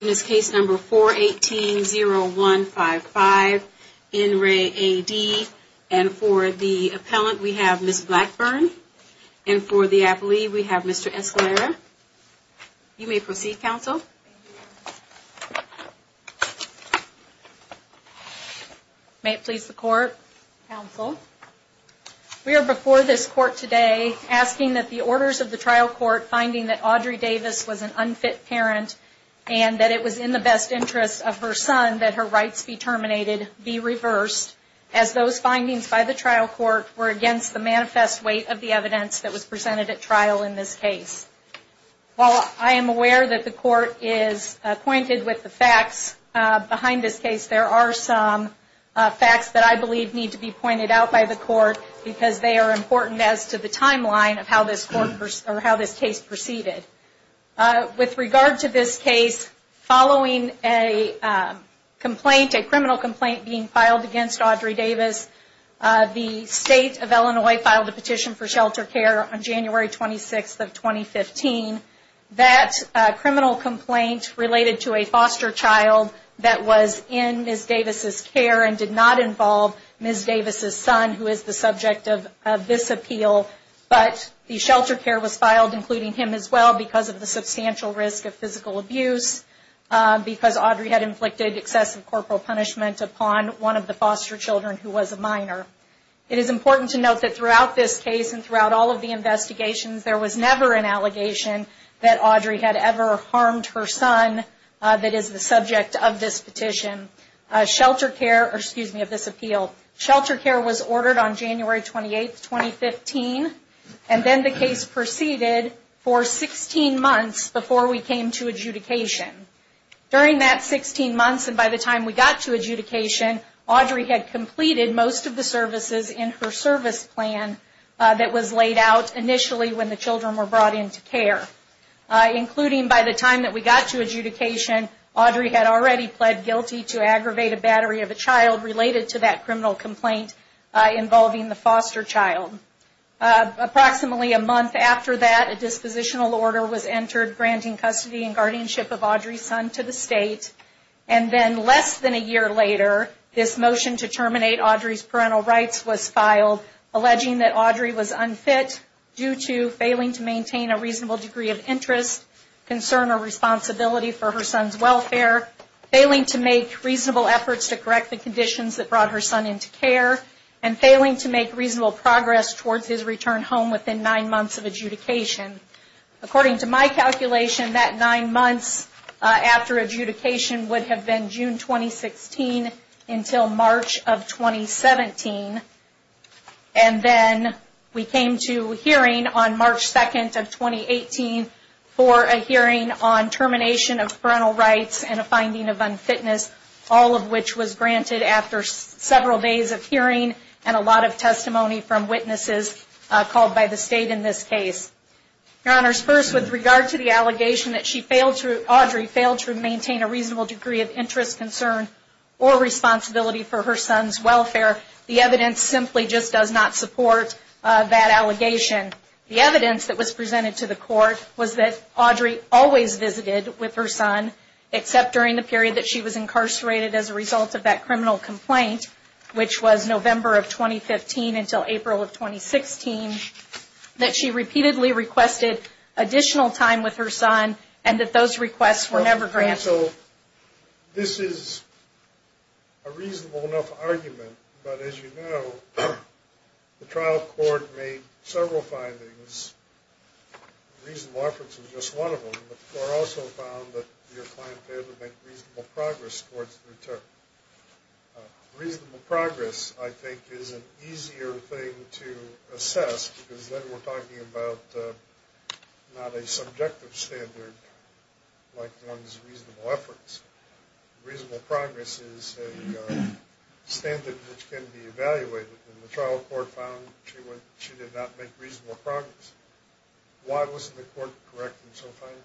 In this case number 418-0155, in re A.D., and for the appellant, we have Ms. Blackburn, and for the appellee, we have Mr. Escalera. You may proceed, counsel. May it please the court, counsel. We are before this court today asking that the orders of the trial court finding that Audrey Davis was an unfit parent, and that it was in the best interest of her son that her rights be terminated, be reversed, as those findings by the trial court were against the manifest weight of the evidence that was presented at trial in this case. While I am aware that the court is acquainted with the facts behind this case, there are some facts that I believe need to be pointed out by the court, because they are important as to the timeline of how this case proceeded. With regard to this case, following a criminal complaint being filed against Audrey Davis, the state of Illinois filed a petition for shelter care on January 26th of 2015. That criminal complaint related to a foster child that was in Ms. Davis' care and did not involve Ms. Davis' son, who is the subject of this appeal. But the shelter care was filed, including him as well, because of the substantial risk of physical abuse, because Audrey had inflicted excessive corporal punishment upon one of the foster children who was a minor. It is important to note that throughout this case and throughout all of the investigations, there was never an allegation that Audrey had ever harmed her son that is the subject of this petition. Shelter care was ordered on January 28th, 2015, and then the case proceeded for 16 months before we came to adjudication. During that 16 months and by the time we got to adjudication, Audrey had completed most of the services in her service plan that was laid out initially when the children were brought into care. Including by the time that we got to adjudication, Audrey had already pled guilty to aggravated battery of a child related to that criminal complaint involving the foster child. Approximately a month after that, a dispositional order was entered granting custody and guardianship of Audrey's son to the state, and then less than a year later, this motion to terminate Audrey's parental rights was filed, alleging that Audrey was unfit due to failing to maintain a reasonable degree of interest, concern, or responsibility for her son's welfare, failing to make reasonable efforts to correct the conditions that brought her son into care, and failing to make reasonable progress towards his return home within nine months of adjudication. According to my calculation, that nine months after adjudication would have been June 2016 until March of 2017, and then we came to hearing on March 2nd of 2018 for a hearing on termination of parental rights and a finding of unfitness, all of which was granted after several days of hearing and a lot of testimony from witnesses called by the state in this case. Your Honors, first, with regard to the allegation that Audrey failed to maintain a reasonable degree of interest, concern, or responsibility for her son's welfare, the evidence simply just does not support that allegation. The evidence that was presented to the court was that Audrey always visited with her son, except during the period that she was incarcerated as a result of that criminal complaint, which was November of 2015 until April of 2016, that she repeatedly requested additional time with her son, and that those requests were never granted. So this is a reasonable enough argument, but as you know, the trial court made several findings. Reasonable offense was just one of them, but the court also found that your client failed to make reasonable progress towards the return. Reasonable progress, I think, is an easier thing to assess, because then we're talking about not a subjective standard like one's reasonable efforts. Reasonable progress is a standard which can be evaluated, and the trial court found she did not make reasonable progress. Why wasn't the court correct in so finding?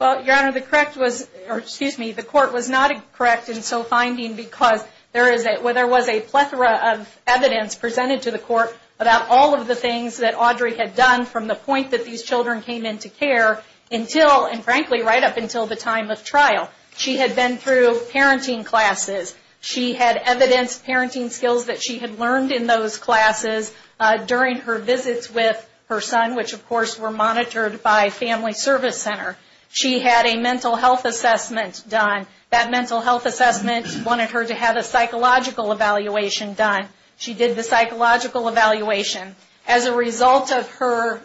Well, Your Honor, the court was not correct in so finding because there was a plethora of evidence presented to the court about all of the things that Audrey had done from the point that these children came into care until, and frankly, right up until the time of trial. She had been through parenting classes. She had evidenced parenting skills that she had learned in those classes during her visits with her son, which of course were monitored by Family Service Center. She had a mental health assessment done. That mental health assessment wanted her to have a psychological evaluation done. She did the psychological evaluation. As a result of her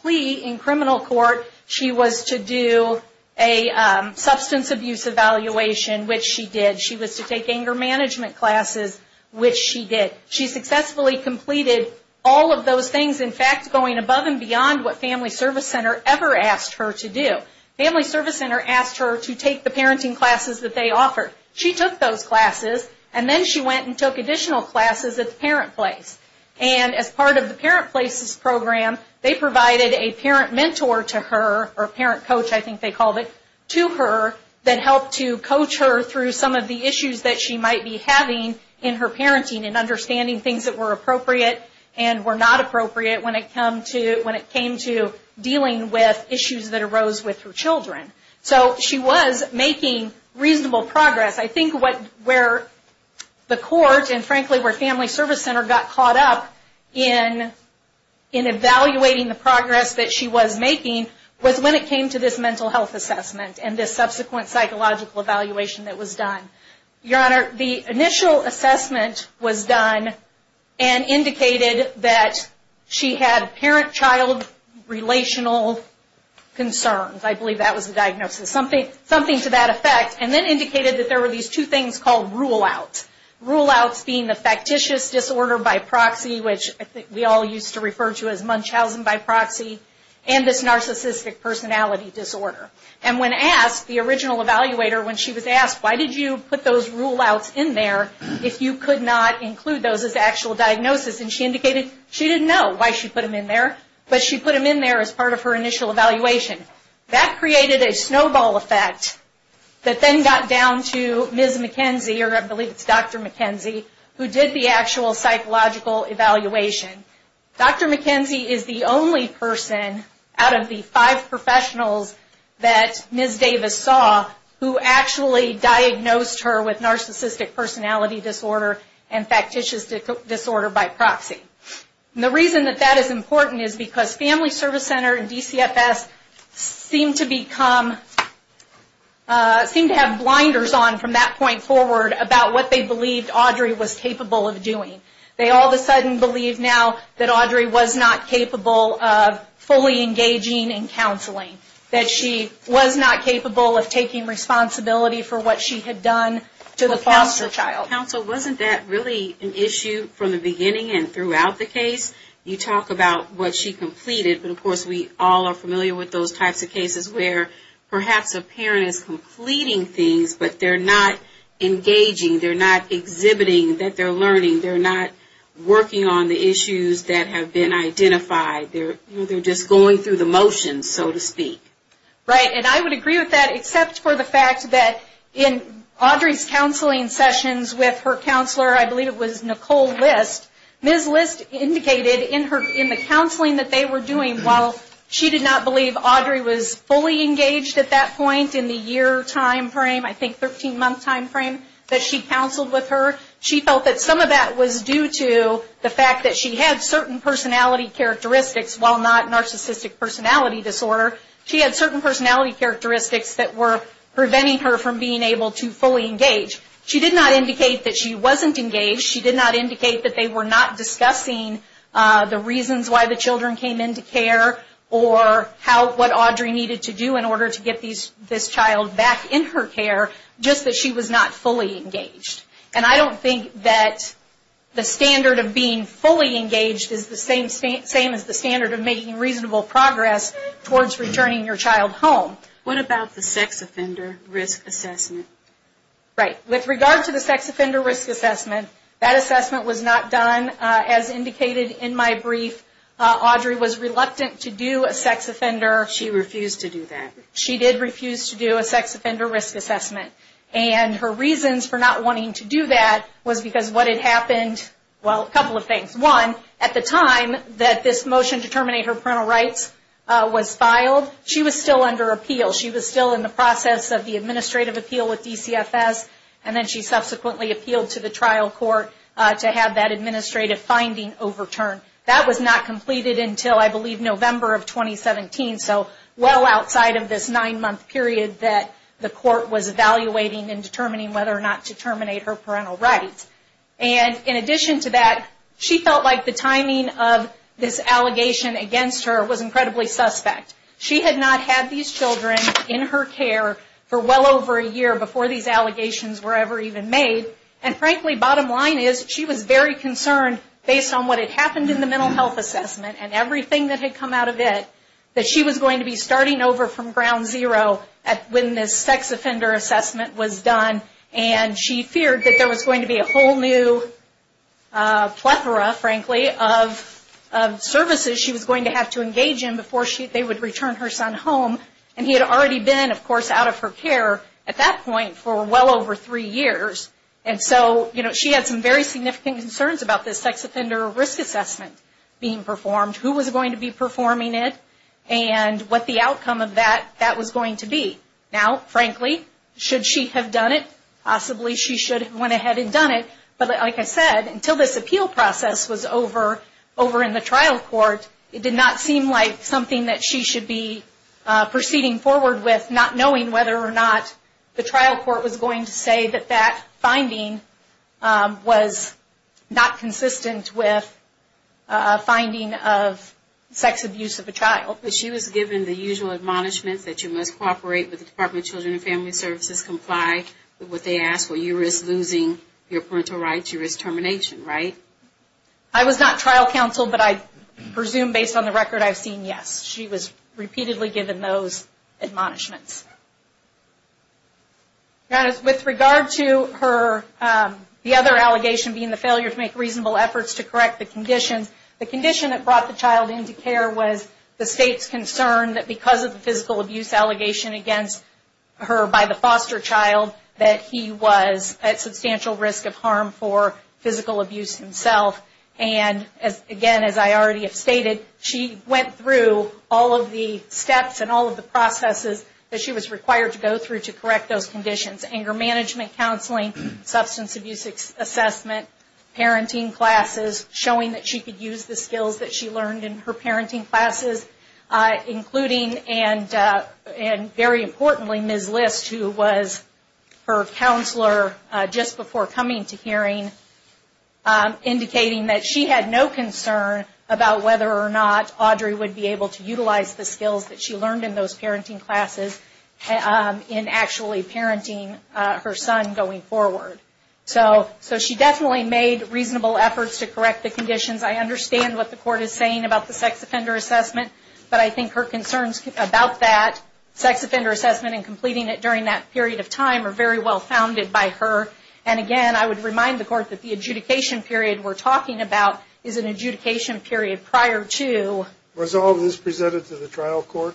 plea in criminal court, she was to do a substance abuse evaluation, which she did. She was to take anger management classes, which she did. She successfully completed all of those things, in fact, going above and beyond what Family Service Center ever asked her to do. Family Service Center asked her to take the parenting classes that they offered. She took those classes, and then she went and took additional classes at the parent place. As part of the parent place's program, they provided a parent mentor to her, or parent coach, I think they called it, to her that helped to coach her through some of the issues that she might be having in her parenting and understanding things that were appropriate and were not appropriate when it came to dealing with issues that arose with her children. She was making reasonable progress. I think where the court and, frankly, where Family Service Center got caught up in evaluating the progress that she was making was when it came to this mental health assessment and this subsequent psychological evaluation that was done. Your Honor, the initial assessment was done and indicated that she had parent-child relational concerns. I believe that was the diagnosis. Something to that effect, and then indicated that there were these two things called rule-outs. Rule-outs being the factitious disorder by proxy, which we all used to refer to as Munchausen by proxy, and this narcissistic personality disorder. When asked, the original evaluator, when she was asked, why did you put those rule-outs in there if you could not include those as actual diagnosis, and she indicated she didn't know why she put them in there, but she put them in there as part of her initial evaluation. That created a snowball effect that then got down to Ms. McKenzie, or I believe it's Dr. McKenzie, who did the actual psychological evaluation. Dr. McKenzie is the only person out of the five professionals that Ms. Davis saw who actually diagnosed her with narcissistic personality disorder and factitious disorder by proxy. The reason that that is important is because Family Service Center and DCFS seem to have blinders on from that point forward about what they believed Audrey was capable of doing. They all of a sudden believe now that Audrey was not capable of fully engaging in counseling, that she was not capable of taking responsibility for what she had done to the foster child. Counsel, wasn't that really an issue from the beginning and throughout the case? You talk about what she completed, but of course we all are familiar with those types of cases where perhaps a parent is completing things, but they're not engaging. They're not exhibiting that they're learning. They're not working on the issues that have been identified. They're just going through the motions, so to speak. Right, and I would agree with that except for the fact that in Audrey's counseling sessions with her counselor, I believe it was Nicole List, Ms. List indicated in the counseling that they were doing, while she did not believe Audrey was fully engaged at that point in the year time frame, I think 13-month time frame that she counseled with her, she felt that some of that was due to the fact that she had certain personality characteristics while not narcissistic personality disorder. She had certain personality characteristics that were preventing her from being able to fully engage. She did not indicate that she wasn't engaged. She did not indicate that they were not discussing the reasons why the children came into care or what Audrey needed to do in order to get this child back in her care, just that she was not fully engaged. And I don't think that the standard of being fully engaged is the same as the standard of making reasonable progress towards returning your child home. What about the sex offender risk assessment? Right. With regard to the sex offender risk assessment, that assessment was not done. As indicated in my brief, Audrey was reluctant to do a sex offender. She refused to do that. She did refuse to do a sex offender risk assessment. And her reasons for not wanting to do that was because what had happened, well, a couple of things. One, at the time that this motion to terminate her parental rights was filed, she was still under appeal. She was still in the process of the administrative appeal with DCFS, and then she subsequently appealed to the trial court to have that administrative finding overturned. That was not completed until, I believe, November of 2017, so well outside of this nine-month period that the court was evaluating and determining whether or not to terminate her parental rights. And in addition to that, she felt like the timing of this allegation against her was incredibly suspect. She had not had these children in her care for well over a year before these allegations were ever even made. And frankly, bottom line is, she was very concerned based on what had happened in the mental health assessment and everything that had come out of it, that she was going to be starting over from ground zero when this sex offender assessment was done. And she feared that there was going to be a whole new plethora, frankly, of services she was going to have to engage in before they would return her son home. And he had already been, of course, out of her care at that point for well over three years. And so she had some very significant concerns about this sex offender risk assessment being performed, who was going to be performing it, and what the outcome of that was going to be. Now, frankly, should she have done it? Possibly she should have went ahead and done it. But like I said, until this appeal process was over in the trial court, it did not seem like something that she should be proceeding forward with, not knowing whether or not the trial court was going to say that that finding was not consistent with a finding of sex abuse of a child. But she was given the usual admonishments that you must cooperate with the Department of Children and Family Services, comply with what they ask, or you risk losing your parental rights, you risk termination, right? I was not trial counsel, but I presume based on the record I've seen, yes. She was repeatedly given those admonishments. Now, with regard to her, the other allegation being the failure to make reasonable efforts to correct the conditions, the condition that brought the child into care was the state's concern that because of the physical abuse allegation against her by the foster child, that he was at substantial risk of harm for physical abuse himself. And again, as I already have stated, she went through all of the steps and all of the processes that she was required to go through to correct those conditions. Anger management counseling, substance abuse assessment, parenting classes, showing that she could use the skills that she learned in her parenting classes, including and very importantly, Ms. List, who was her counselor just before coming to hearing, indicating that she had no concern about whether or not Audrey would be able to utilize the skills that she learned in those parenting classes in actually parenting her son going forward. So she definitely made reasonable efforts to correct the conditions. I understand what the court is saying about the sex offender assessment, but I think her concerns about that sex offender assessment and completing it during that period of time are very well founded by her. And again, I would remind the court that the adjudication period we're talking about is an adjudication period prior to. Was all of this presented to the trial court?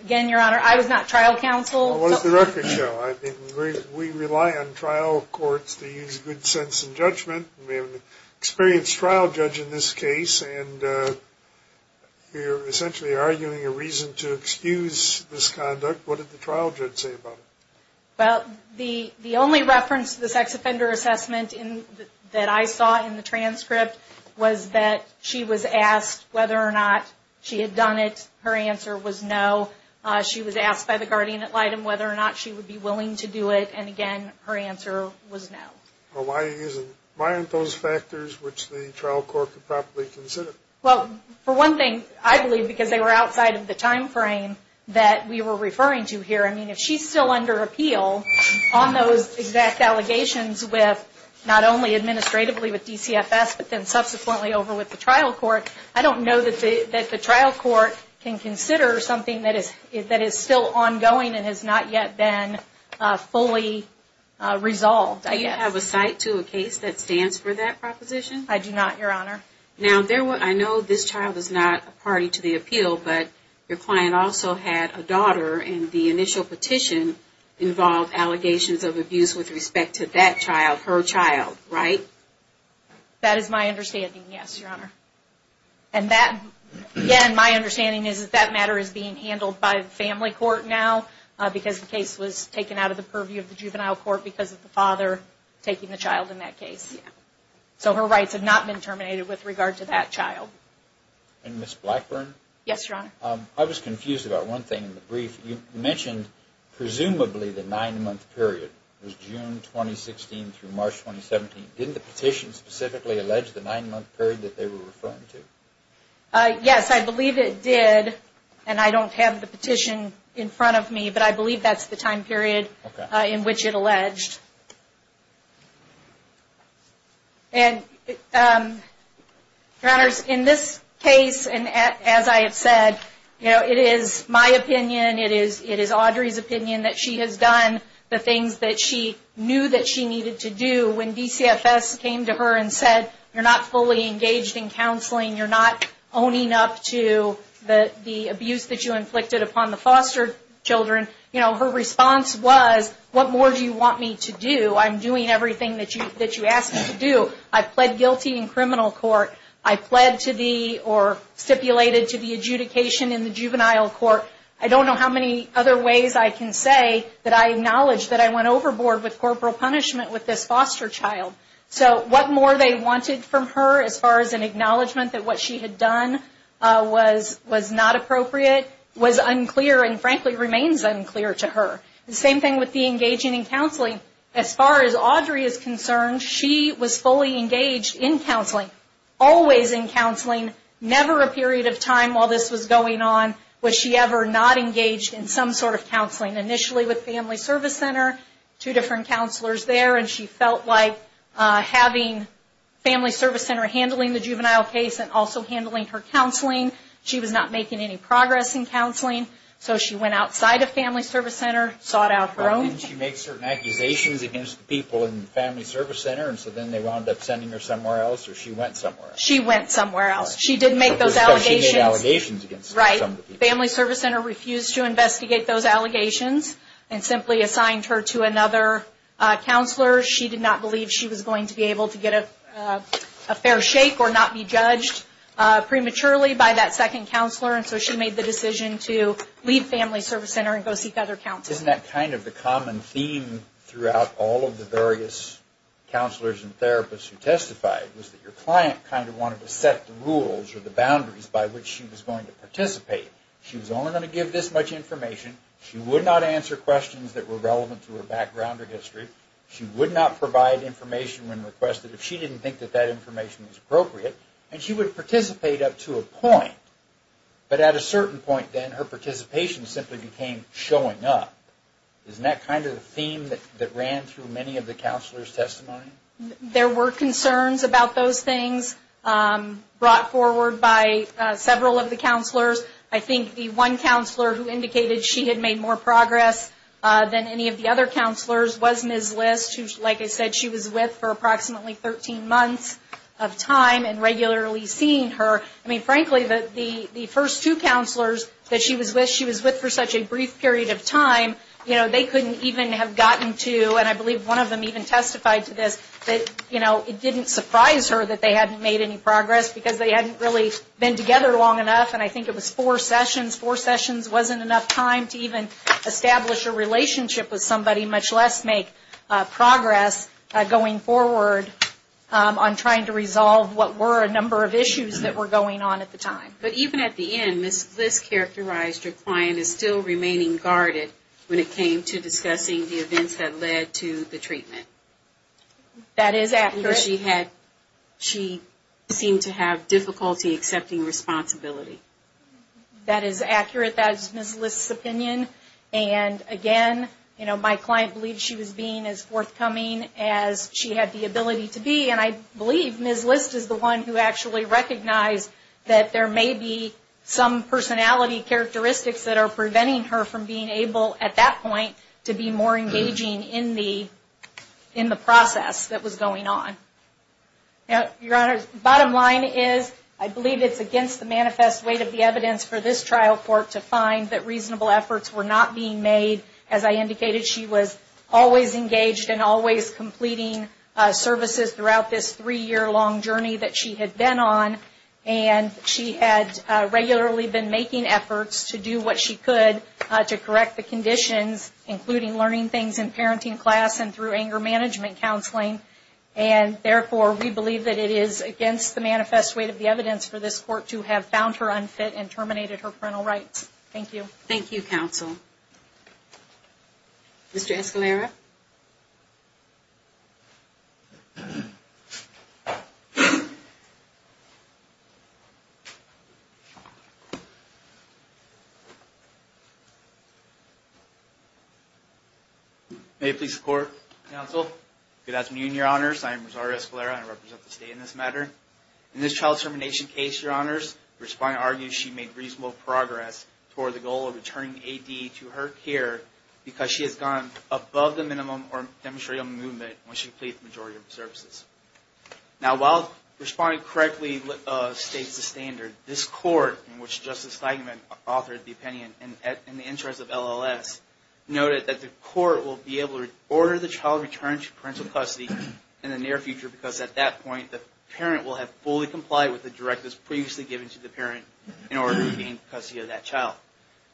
Again, Your Honor, I was not trial counsel. What does the record show? We rely on trial courts to use good sense and judgment. We have an experienced trial judge in this case, and we're essentially arguing a reason to excuse this conduct. What did the trial judge say about it? Well, the only reference to the sex offender assessment that I saw in the transcript was that she was asked whether or not she had done it. Her answer was no. She was asked by the guardian ad litem whether or not she would be willing to do it. And again, her answer was no. Why aren't those factors which the trial court could properly consider? Well, for one thing, I believe because they were outside of the time frame that we were referring to here. I mean, if she's still under appeal on those exact allegations with not only administratively with DCFS but then subsequently over with the trial court, I don't know that the trial court can consider something that is still ongoing and has not yet been fully resolved. Do you have a cite to a case that stands for that proposition? I do not, Your Honor. Now, I know this child is not a party to the appeal, but your client also had a daughter and the initial petition involved allegations of abuse with respect to that child, her child, right? That is my understanding, yes, Your Honor. And that, again, my understanding is that that matter is being handled by the family court now because the case was taken out of the purview of the juvenile court because of the father taking the child in that case. So her rights have not been terminated with regard to that child. And Ms. Blackburn? Yes, Your Honor. I was confused about one thing in the brief. You mentioned presumably the nine-month period was June 2016 through March 2017. Didn't the petition specifically allege the nine-month period that they were referring to? Yes, I believe it did, and I don't have the petition in front of me, but I believe that's the time period in which it alleged. And, Your Honor, in this case, as I have said, you know, it is my opinion, it is Audrey's opinion that she has done the things that she knew that she needed to do. When DCFS came to her and said, you're not fully engaged in counseling, you're not owning up to the abuse that you inflicted upon the foster children, you know, her response was, what more do you want me to do? I'm doing everything that you asked me to do. I pled guilty in criminal court. I pled to the or stipulated to the adjudication in the juvenile court. I don't know how many other ways I can say that I acknowledge that I went overboard with corporal punishment with this foster child. So what more they wanted from her as far as an acknowledgment that what she had done was not appropriate was unclear and frankly remains unclear to her. The same thing with the engaging in counseling. As far as Audrey is concerned, she was fully engaged in counseling, always in counseling, never a period of time while this was going on was she ever not engaged in some sort of counseling. And initially with Family Service Center, two different counselors there, and she felt like having Family Service Center handling the juvenile case and also handling her counseling, she was not making any progress in counseling. So she went outside of Family Service Center, sought out her own. Didn't she make certain accusations against the people in the Family Service Center, and so then they wound up sending her somewhere else, or she went somewhere else? She went somewhere else. Because she made allegations against some of the people. Family Service Center refused to investigate those allegations and simply assigned her to another counselor. She did not believe she was going to be able to get a fair shake or not be judged prematurely by that second counselor, and so she made the decision to leave Family Service Center and go seek other counseling. Isn't that kind of the common theme throughout all of the various counselors and therapists who testified, was that your client kind of wanted to set the rules or the boundaries by which she was going to participate. She was only going to give this much information. She would not answer questions that were relevant to her background or history. She would not provide information when requested if she didn't think that that information was appropriate, and she would participate up to a point. But at a certain point then, her participation simply became showing up. Isn't that kind of the theme that ran through many of the counselors' testimony? There were concerns about those things brought forward by several of the counselors. I think the one counselor who indicated she had made more progress than any of the other counselors was Ms. List, who, like I said, she was with for approximately 13 months of time and regularly seeing her. I mean, frankly, the first two counselors that she was with, she was with for such a brief period of time, you know, they couldn't even have gotten to, and I believe one of them even testified to this, that, you know, it didn't surprise her that they hadn't made any progress because they hadn't really been together long enough, and I think it was four sessions. Four sessions wasn't enough time to even establish a relationship with somebody, much less make progress going forward on trying to resolve what were a number of issues that were going on at the time. But even at the end, Ms. List characterized her client as still remaining guarded when it came to discussing the events that led to the treatment. That is accurate. She seemed to have difficulty accepting responsibility. That is accurate. That is Ms. List's opinion. And, again, you know, my client believed she was being as forthcoming as she had the ability to be, and I believe Ms. List is the one who actually recognized that there may be some personality characteristics that are preventing her from being able, at that point, to be more engaging in the process that was going on. Now, Your Honors, bottom line is I believe it's against the manifest weight of the evidence for this trial court to find that reasonable efforts were not being made. As I indicated, she was always engaged and always completing services throughout this three-year-long journey that she had been on, and she had regularly been making efforts to do what she could to correct the conditions, including learning things in parenting class and through anger management counseling. And, therefore, we believe that it is against the manifest weight of the evidence for this court to have found her unfit and terminated her parental rights. Thank you. Thank you, Counsel. Mr. Escalera. May it please the Court, Counsel. Good afternoon, Your Honors. I am Rosario Escalera, and I represent the State in this matter. In this child termination case, Your Honors, the respondent argues she made reasonable progress toward the goal of returning A.D. to her care because she has gone above the minimum or demonstrated movement when she completed the majority of the services. Now, while the respondent correctly states the standard, this court, in which Justice Steigman authored the opinion in the interest of LLS, noted that the court will be able to order the child returned to parental custody in the near future because, at that point, the parent will have fully complied with the directives previously given to the parent in order to gain custody of that child.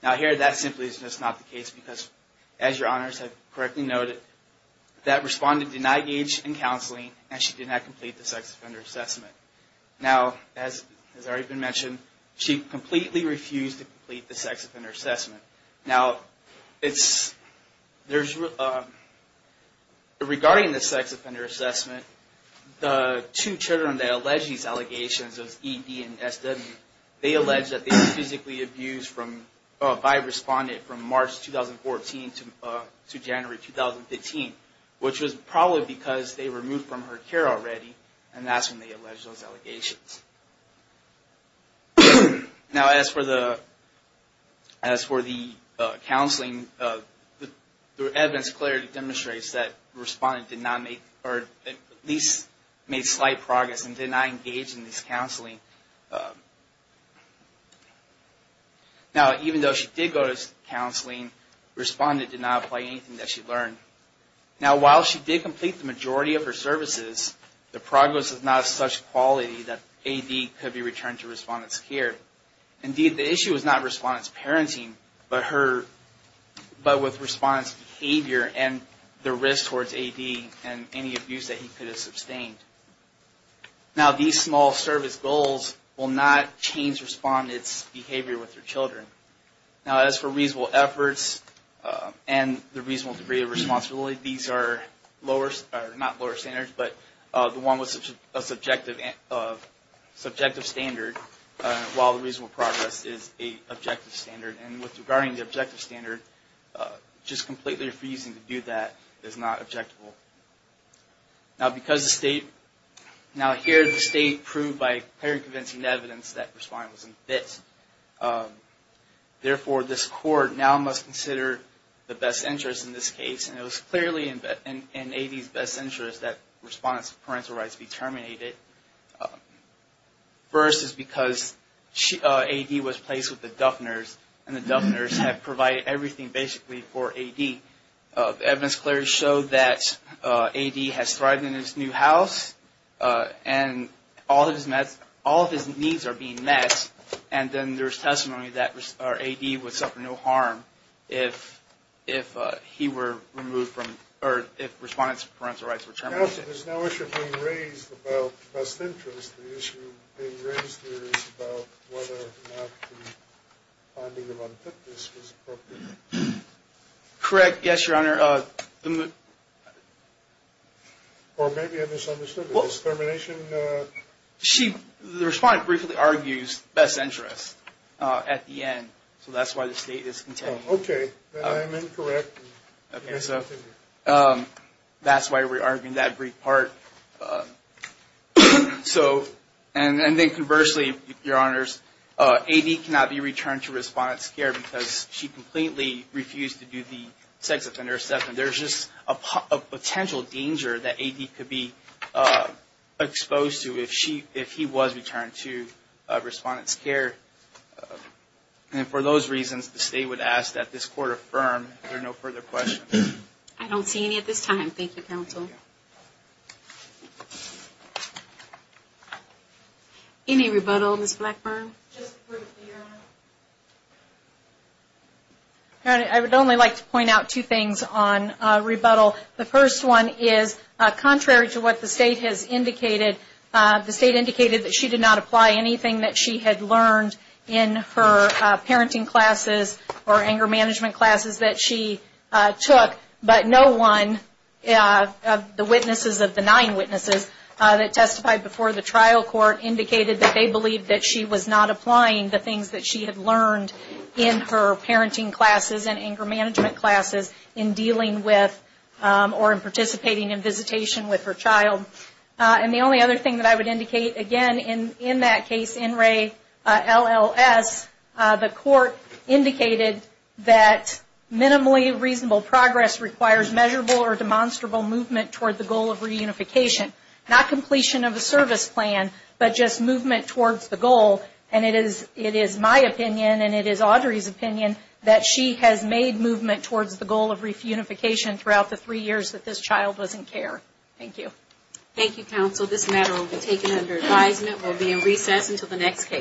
Now, here, that simply is just not the case because, as Your Honors have correctly noted, that respondent did not engage in counseling and she did not complete the sex offender assessment. Now, as has already been mentioned, she completely refused to complete the sex offender assessment. Now, regarding the sex offender assessment, the two children that allege these allegations, E.D. and S.W., they allege that they were physically abused by a respondent from March 2014 to January 2015, which was probably because they were moved from her care already, and that's when they allege those allegations. Now, as for the counseling, the evidence clearly demonstrates that the respondent did not make, or at least made slight progress and did not engage in this counseling. Now, even though she did go to counseling, the respondent did not apply anything that she learned. Now, while she did complete the majority of her services, the progress was not of such quality that E.D. could be returned to respondent's care. Indeed, the issue is not respondent's parenting, but with respondent's behavior and the risk towards E.D. and any abuse that he could have sustained. Now, these small service goals will not change respondent's behavior with their children. Now, as for reasonable efforts and the reasonable degree of responsibility, these are lower, not lower standards, but the one with a subjective standard, while the reasonable progress is a objective standard. And with regarding the objective standard, just completely refusing to do that is not objectable. Now, because the state, now here the state proved by clearly convincing evidence that respondent was in fits. Therefore, this court now must consider the best interest in this case. And it was clearly in E.D.'s best interest that respondent's parental rights be terminated. First is because E.D. was placed with the Duffners, and the Duffners have provided everything basically for E.D. Evidence clearly showed that E.D. has thrived in his new house, and all of his needs are being met, and then there's testimony that E.D. would suffer no harm if he were removed from, or if respondent's parental rights were terminated. Perhaps if there's no issue being raised about best interest, the issue being raised here is about whether or not the finding of unfitness was appropriate. Correct, yes, Your Honor. Or maybe I misunderstood the termination. The respondent briefly argues best interest at the end, so that's why the state is contending. Okay, then I am incorrect. Okay, so that's why we're arguing that brief part. So, and then conversely, Your Honors, E.D. cannot be returned to respondent's care because she completely refused to do the sex offender assessment. There's just a potential danger that E.D. could be exposed to if he was returned to respondent's care. And for those reasons, the state would ask that this court affirm. Are there no further questions? I don't see any at this time. Thank you, Counsel. Any rebuttal, Ms. Blackburn? I would only like to point out two things on rebuttal. The first one is contrary to what the state has indicated, the state indicated that she did not apply anything that she had learned in her parenting classes or anger management classes that she took. But no one of the witnesses of the nine witnesses that testified before the trial court indicated that they believed that she was not applying the things that she had learned in her parenting classes and anger management classes in dealing with or in participating in visitation with her child. And the only other thing that I would indicate, again, in that case, NRELLS, the court indicated that minimally reasonable progress requires measurable or demonstrable movement toward the goal of reunification. Not completion of a service plan, but just movement towards the goal. And it is my opinion and it is Audrey's opinion that she has made movement towards the goal of reunification throughout the three years that this child was in care. Thank you. Thank you, Counsel. This matter will be taken under advisement. We'll be in recess until the next case.